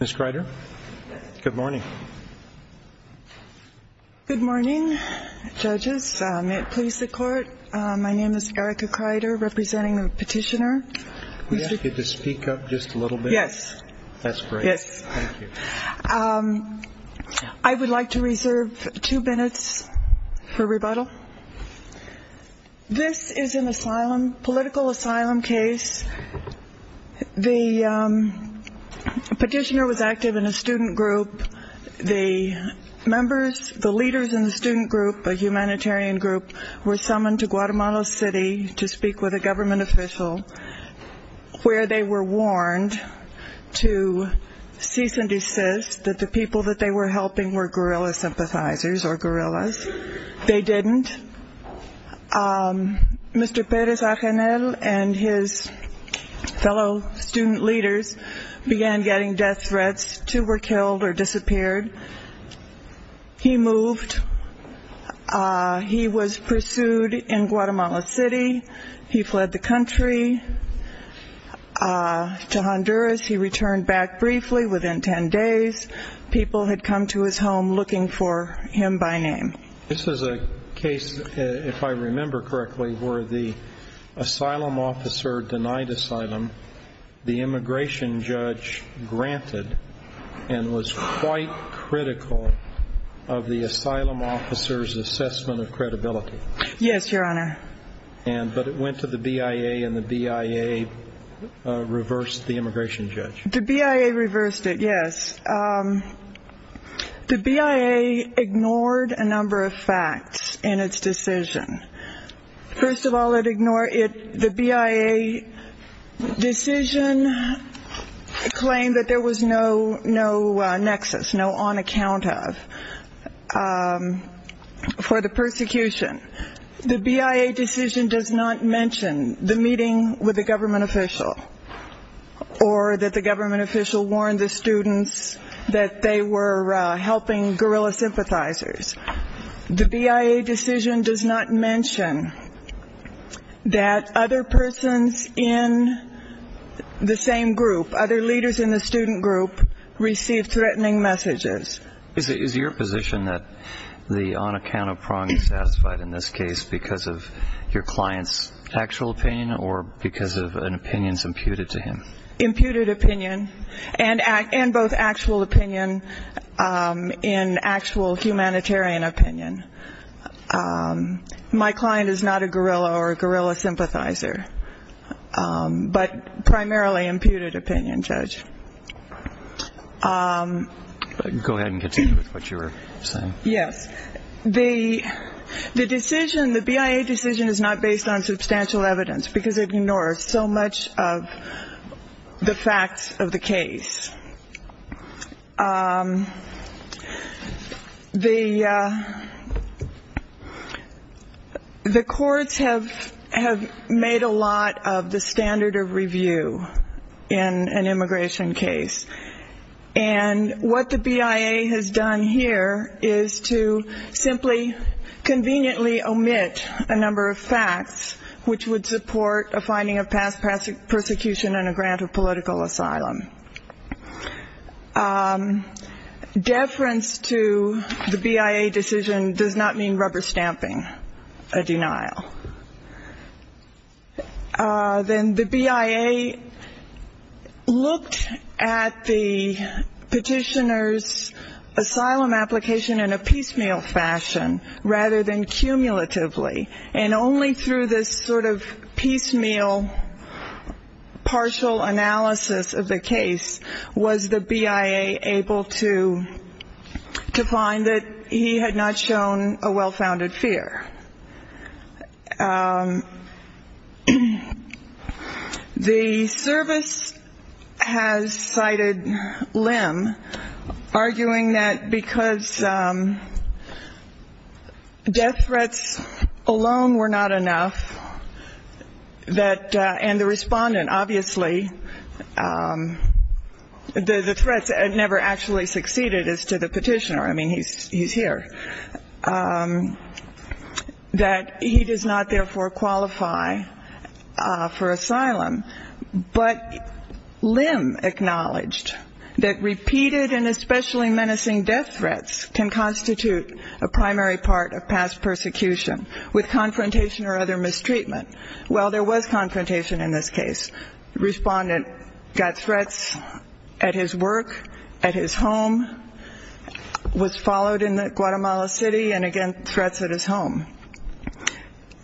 Mrs. Kreider, good morning. Good morning, judges. May it please the court, my name is Erica Kreider, representing the petitioner. Could you speak up just a little bit? Yes. That's great. Yes. Thank you. I would like to reserve two minutes for rebuttal. This is an asylum, political asylum case. The petitioner was active in a student group. The members, the leaders in the student group, a humanitarian group, were summoned to Guatemala City to speak with a government official where they were warned to cease and desist that the people that they were helping were guerrilla sympathizers or guerrillas. They didn't. Mr. Perez-Ajanel and his fellow student leaders began getting death threats. Two were killed or disappeared. He moved. He was pursued in Guatemala City. He fled the country to Honduras. He returned back briefly within ten days. People had come to his home looking for him by name. This is a case, if I remember correctly, where the asylum officer denied asylum. The immigration judge granted and was quite critical of the asylum officer's assessment of credibility. Yes, Your Honor. But it went to the BIA and the BIA reversed the immigration judge. The BIA reversed it, yes. The BIA ignored a number of facts in its decision. First of all, the BIA decision claimed that there was no nexus, no on account of for the persecution. The BIA decision does not mention the meeting with the government official or that the government official warned the students that they were helping guerrilla sympathizers. The BIA decision does not mention that other persons in the same group, other leaders in the student group, received threatening messages. Is it your position that the on account of prong is satisfied in this case because of your client's actual opinion or because of an opinion imputed to him? Imputed opinion and both actual opinion and actual humanitarian opinion. My client is not a guerrilla or a guerrilla sympathizer, but primarily imputed opinion, Judge. Go ahead and continue with what you were saying. Yes. The decision, the BIA decision is not based on substantial evidence because it ignores so much of the facts of the case. The courts have made a lot of the standard of review in an immigration case. And what the BIA has done here is to simply conveniently omit a number of facts which would support a finding of past persecution and a grant of political asylum. Deference to the BIA decision does not mean rubber stamping a denial. Then the BIA looked at the petitioner's asylum application in a piecemeal fashion rather than cumulatively. And only through this sort of piecemeal partial analysis of the case was the BIA able to find that he had not shown a well-founded fear. The service has cited Lim, arguing that because death threats alone were not enough, and the respondent obviously, the threats never actually succeeded as to the petitioner, I mean he's here. That he does not therefore qualify for asylum. But Lim acknowledged that repeated and especially menacing death threats can constitute a primary part of past persecution with confrontation or other mistreatment. Well, there was confrontation in this case. Respondent got threats at his work, at his home, was followed in Guatemala City and again threats at his home.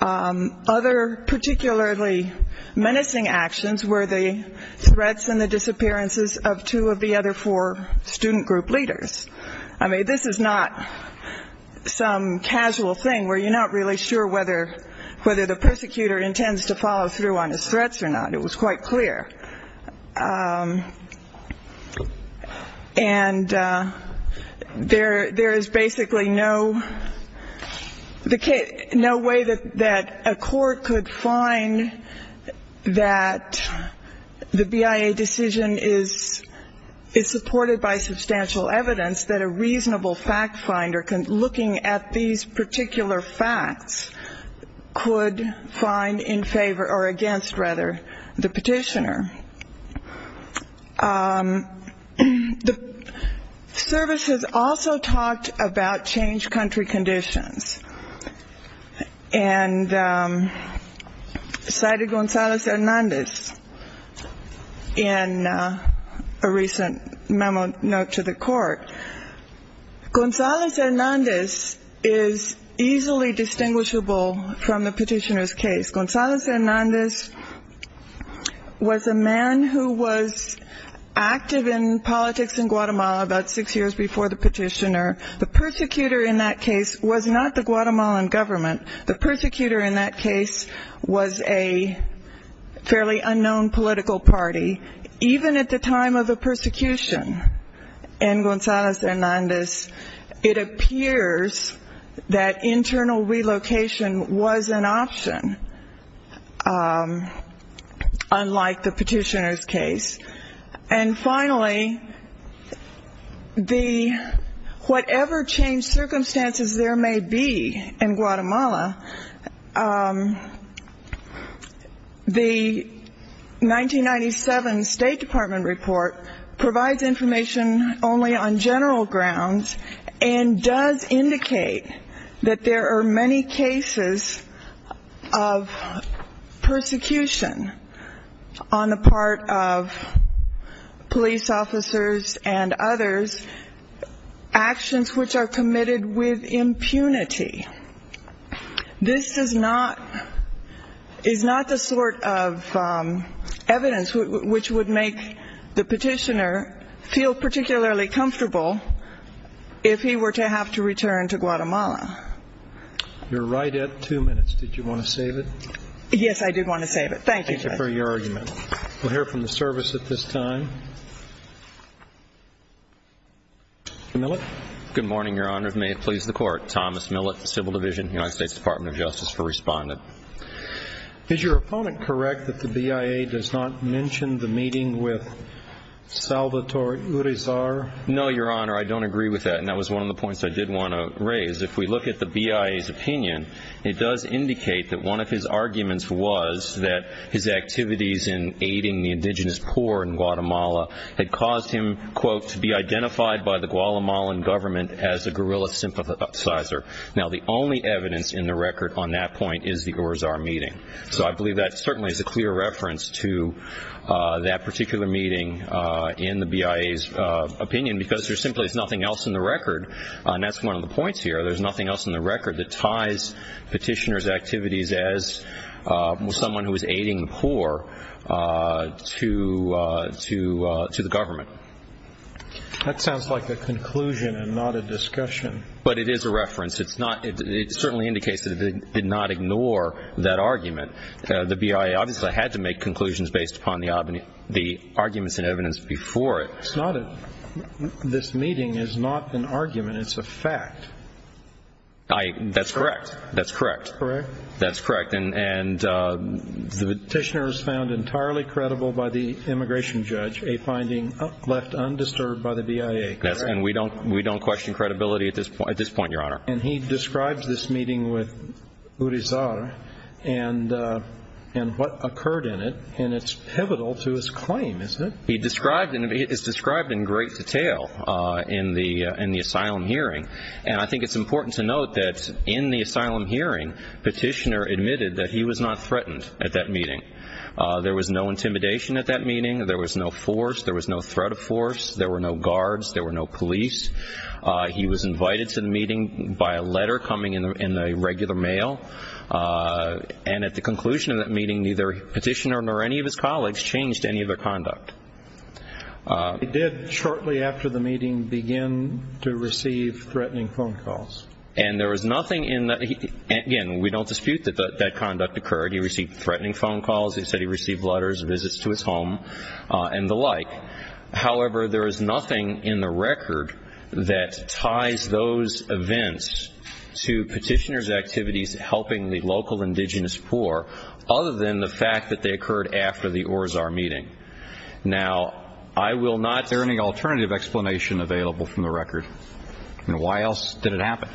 Other particularly menacing actions were the threats and the disappearances of two of the other four student group leaders. I mean this is not some casual thing where you're not really sure whether the persecutor intends to follow through on his threats or not. I mean it was quite clear. And there is basically no way that a court could find that the BIA decision is supported by substantial evidence that a reasonable fact finder looking at these particular facts could find in favor or against rather the petitioner. The service has also talked about changed country conditions. And cited Gonzales Hernandez in a recent memo note to the court. Gonzales Hernandez is easily distinguishable from the petitioner's case. Gonzales Hernandez was a man who was active in politics in Guatemala about six years before the petitioner. The persecutor in that case was not the Guatemalan government. The persecutor in that case was a fairly unknown political party. Even at the time of the persecution in Gonzales Hernandez, it appears that internal relocation was an option unlike the petitioner's case. And finally, whatever changed circumstances there may be in Guatemala, the 1997 State Department report provides information only on general grounds and does indicate that there are many cases of persecution on the part of police officers and others, actions which are committed with impunity. This is not the sort of evidence which would make the petitioner feel particularly comfortable if he were to have to return to Guatemala. You're right at two minutes. Did you want to save it? Yes, I did want to save it. Thank you. Thank you for your argument. We'll hear from the service at this time. Millett. Good morning, Your Honor. May it please the Court. Thomas Millett, Civil Division, United States Department of Justice for Respondent. Is your opponent correct that the BIA does not mention the meeting with Salvatore Urizar? No, Your Honor. I don't agree with that, and that was one of the points I did want to raise. If we look at the BIA's opinion, it does indicate that one of his arguments was that his activities in aiding the indigenous poor in Guatemala had caused him, quote, to be identified by the Guatemalan government as a guerrilla sympathizer. Now, the only evidence in the record on that point is the Urizar meeting. So I believe that certainly is a clear reference to that particular meeting in the BIA's opinion because there simply is nothing else in the record, and that's one of the points here, there's nothing else in the record that ties petitioner's activities as someone who is aiding the poor to the government. That sounds like a conclusion and not a discussion. But it is a reference. It certainly indicates that it did not ignore that argument. The BIA obviously had to make conclusions based upon the arguments and evidence before it. This meeting is not an argument. It's a fact. That's correct. That's correct. Correct? That's correct. And the petitioner is found entirely credible by the immigration judge, a finding left undisturbed by the BIA, correct? And we don't question credibility at this point, Your Honor. And he describes this meeting with Urizar and what occurred in it, and it's pivotal to his claim, isn't it? It is described in great detail in the asylum hearing, and I think it's important to note that in the asylum hearing, petitioner admitted that he was not threatened at that meeting. There was no intimidation at that meeting. There was no force. There was no threat of force. There were no guards. There were no police. He was invited to the meeting by a letter coming in the regular mail, and at the conclusion of that meeting, neither petitioner nor any of his colleagues changed any of their conduct. He did shortly after the meeting begin to receive threatening phone calls. And there was nothing in that. Again, we don't dispute that that conduct occurred. He received threatening phone calls. He said he received letters, visits to his home, and the like. However, there is nothing in the record that ties those events to petitioner's activities helping the local indigenous poor, other than the fact that they occurred after the Urizar meeting. Now, I will not ---- Is there any alternative explanation available from the record? I mean, why else did it happen?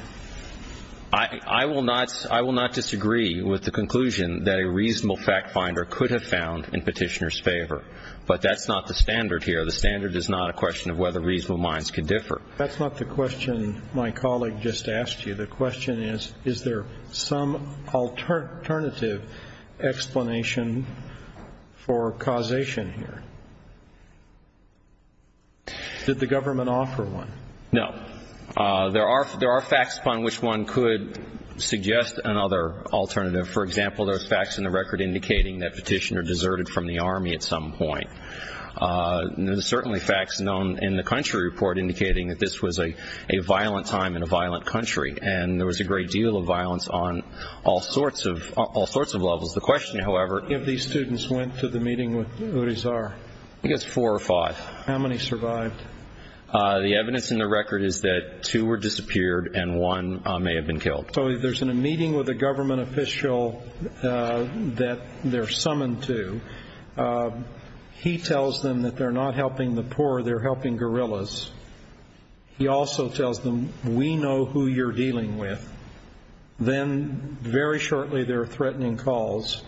I will not disagree with the conclusion that a reasonable fact finder could have found in petitioner's favor, but that's not the standard here. The standard is not a question of whether reasonable minds can differ. That's not the question my colleague just asked you. The question is, is there some alternative explanation for causation here? Did the government offer one? No. There are facts upon which one could suggest another alternative. For example, there are facts in the record indicating that petitioner deserted from the Army at some point. There are certainly facts known in the country report indicating that this was a violent time in a violent country, and there was a great deal of violence on all sorts of levels. The question, however ---- How many of these students went to the meeting with Urizar? I guess four or five. How many survived? The evidence in the record is that two were disappeared and one may have been killed. So there's a meeting with a government official that they're summoned to. He tells them that they're not helping the poor, they're helping guerrillas. He also tells them, we know who you're dealing with. Then very shortly there are threatening calls,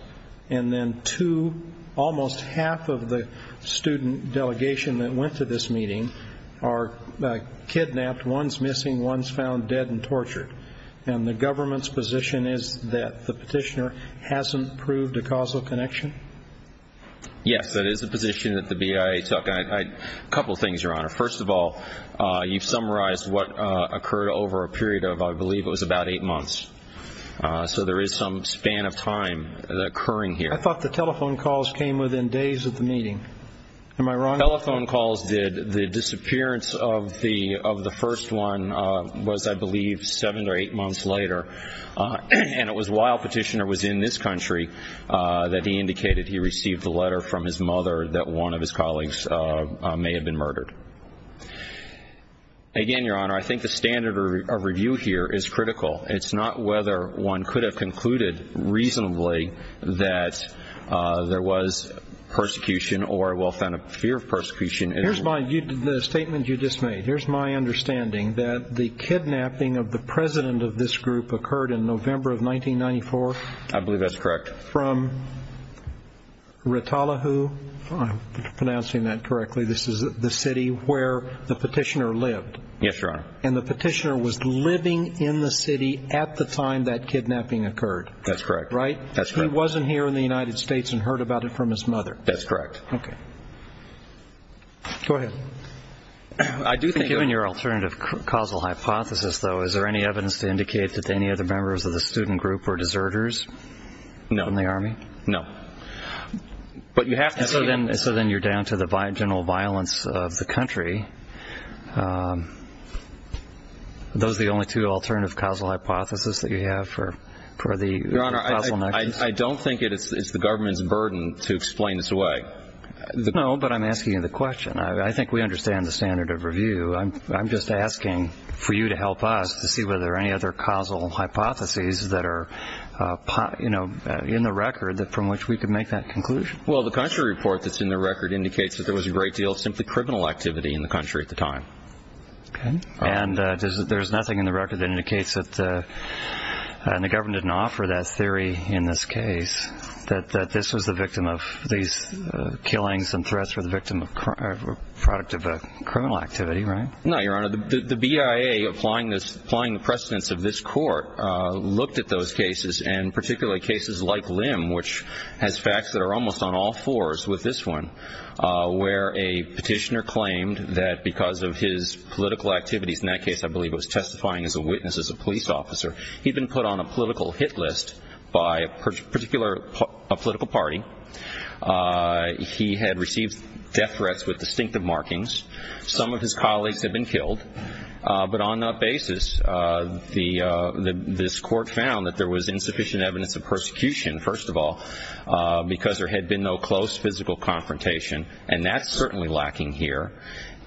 and then two, almost half of the student delegation that went to this meeting are kidnapped. One's missing, one's found dead and tortured. And the government's position is that the petitioner hasn't proved a causal connection? Yes, that is the position that the BIA took. A couple of things, Your Honor. First of all, you've summarized what occurred over a period of, I believe it was about eight months. So there is some span of time occurring here. I thought the telephone calls came within days of the meeting. Am I wrong? The telephone calls did. The disappearance of the first one was, I believe, seven or eight months later. And it was while Petitioner was in this country that he indicated he received a letter from his mother that one of his colleagues may have been murdered. Again, Your Honor, I think the standard of review here is critical. It's not whether one could have concluded reasonably that there was persecution or, well, found a fear of persecution. The statement you just made, here's my understanding, that the kidnapping of the president of this group occurred in November of 1994? I believe that's correct. From Rotolahu, if I'm pronouncing that correctly, this is the city where the petitioner lived. Yes, Your Honor. And the petitioner was living in the city at the time that kidnapping occurred. That's correct. Right? He wasn't here in the United States and heard about it from his mother. That's correct. Okay. Go ahead. I do think, given your alternative causal hypothesis, though, is there any evidence to indicate that any other members of the student group were deserters in the Army? No. So then you're down to the general violence of the country. Are those the only two alternative causal hypotheses that you have for the causal nexus? Your Honor, I don't think it's the government's burden to explain this away. No, but I'm asking you the question. I think we understand the standard of review. I'm just asking for you to help us to see whether there are any other causal hypotheses that are, you know, in the record from which we could make that conclusion. Well, the country report that's in the record indicates that there was a great deal of simply criminal activity in the country at the time. Okay. And there's nothing in the record that indicates that the government didn't offer that theory in this case, that this was the victim of these killings and threats were the product of a criminal activity, right? No, Your Honor. The BIA applying the precedence of this court looked at those cases, and particularly cases like Lim, which has facts that are almost on all fours with this one, where a petitioner claimed that because of his political activities, in that case I believe it was testifying as a witness, as a police officer, he'd been put on a political hit list by a particular political party. He had received death threats with distinctive markings. Some of his colleagues had been killed. But on that basis, this court found that there was insufficient evidence of persecution, first of all, because there had been no close physical confrontation, and that's certainly lacking here.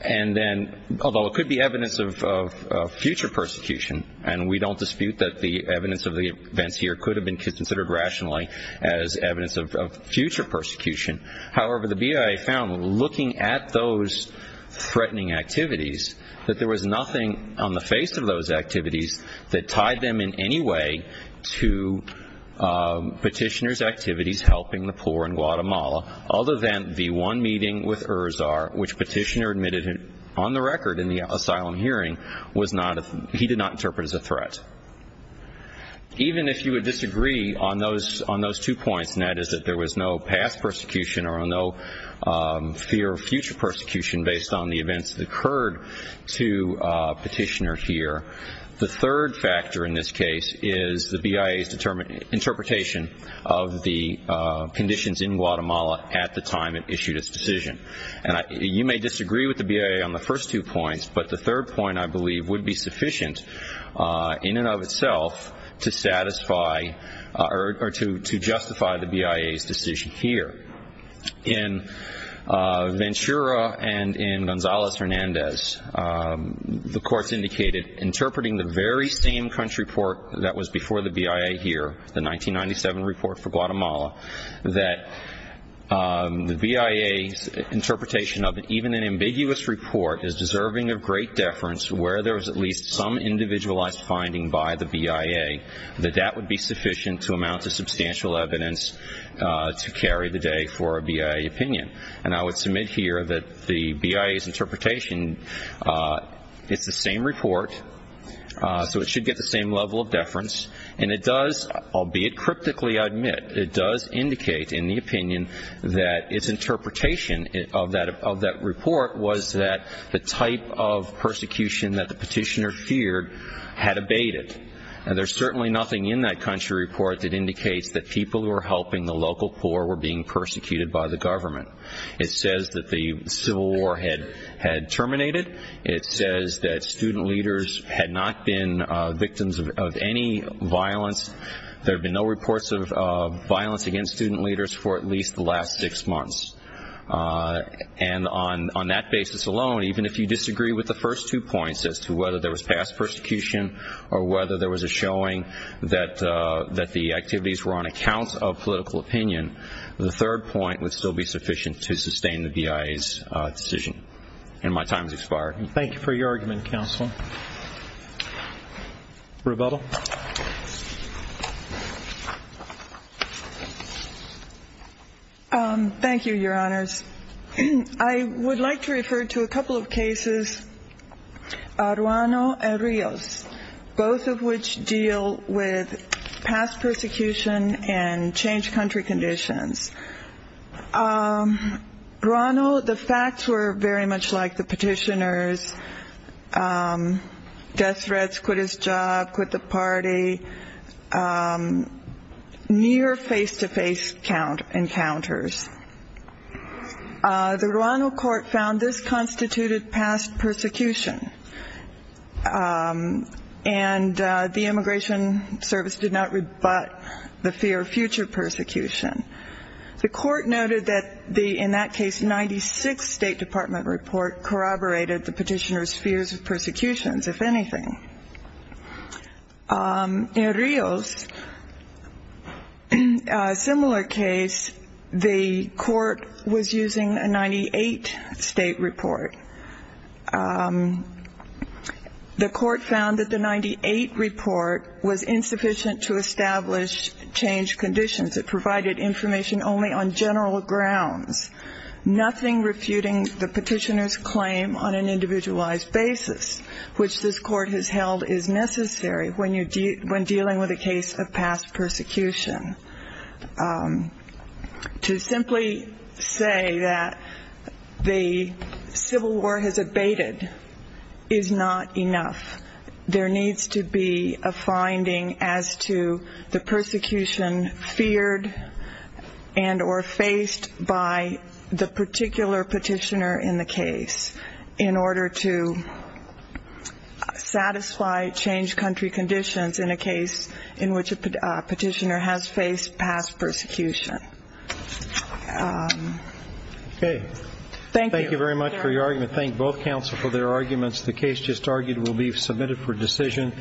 And then, although it could be evidence of future persecution, and we don't dispute that the evidence of the events here could have been considered rationally as evidence of future persecution, however, the BIA found, looking at those threatening activities, that there was nothing on the face of those activities that tied them in any way to petitioner's activities helping the poor in Guatemala, other than the one meeting with Urza, which petitioner admitted on the record in the asylum hearing, he did not interpret as a threat. Even if you would disagree on those two points, and that is that there was no past persecution or no fear of future persecution based on the events that occurred to petitioner here, the third factor in this case is the BIA's interpretation of the conditions in Guatemala at the time it issued its decision. And you may disagree with the BIA on the first two points, but the third point, I believe, would be sufficient in and of itself to justify the BIA's decision here. In Ventura and in Gonzales-Hernandez, the courts indicated, interpreting the very same country report that was before the BIA here, the 1997 report for Guatemala, that the BIA's interpretation of even an ambiguous report is deserving of great deference where there is at least some individualized finding by the BIA, that that would be sufficient to amount to substantial evidence to carry the day for a BIA opinion. And I would submit here that the BIA's interpretation, it's the same report, so it should get the same level of deference, and it does, albeit cryptically, I admit, it does indicate in the opinion that its interpretation of that report was that the type of persecution that the petitioner feared had abated. And there's certainly nothing in that country report that indicates that people who were helping the local poor were being persecuted by the government. It says that the Civil War had terminated. It says that student leaders had not been victims of any violence. There have been no reports of violence against student leaders for at least the last six months. And on that basis alone, even if you disagree with the first two points as to whether there was past persecution or whether there was a showing that the activities were on account of political opinion, the third point would still be sufficient to sustain the BIA's decision. And my time has expired. Thank you for your argument, Counsel. Rebuttal. Thank you, Your Honors. I would like to refer to a couple of cases, Ruano and Rios, both of which deal with past persecution and changed country conditions. Ruano, the facts were very much like the petitioner's death threats, quit his job, quit the party, near face-to-face encounters. The Ruano court found this constituted past persecution, and the immigration service did not rebut the fear of future persecution. The court noted that the, in that case, 96th State Department report corroborated the petitioner's fears of persecutions, if anything. In Rios, a similar case, the court was using a 98th State report. The court found that the 98th report was insufficient to establish changed conditions. It provided information only on general grounds, nothing refuting the petitioner's claim on an individualized basis, which this court has held is necessary when dealing with a case of past persecution. To simply say that the Civil War has abated is not enough. There needs to be a finding as to the persecution feared and or faced by the particular petitioner in the case in order to satisfy changed country conditions in a case in which a petitioner has faced past persecution. Okay. Thank you. Thank you very much for your argument. Thank both counsel for their arguments. The case just argued will be submitted for decision.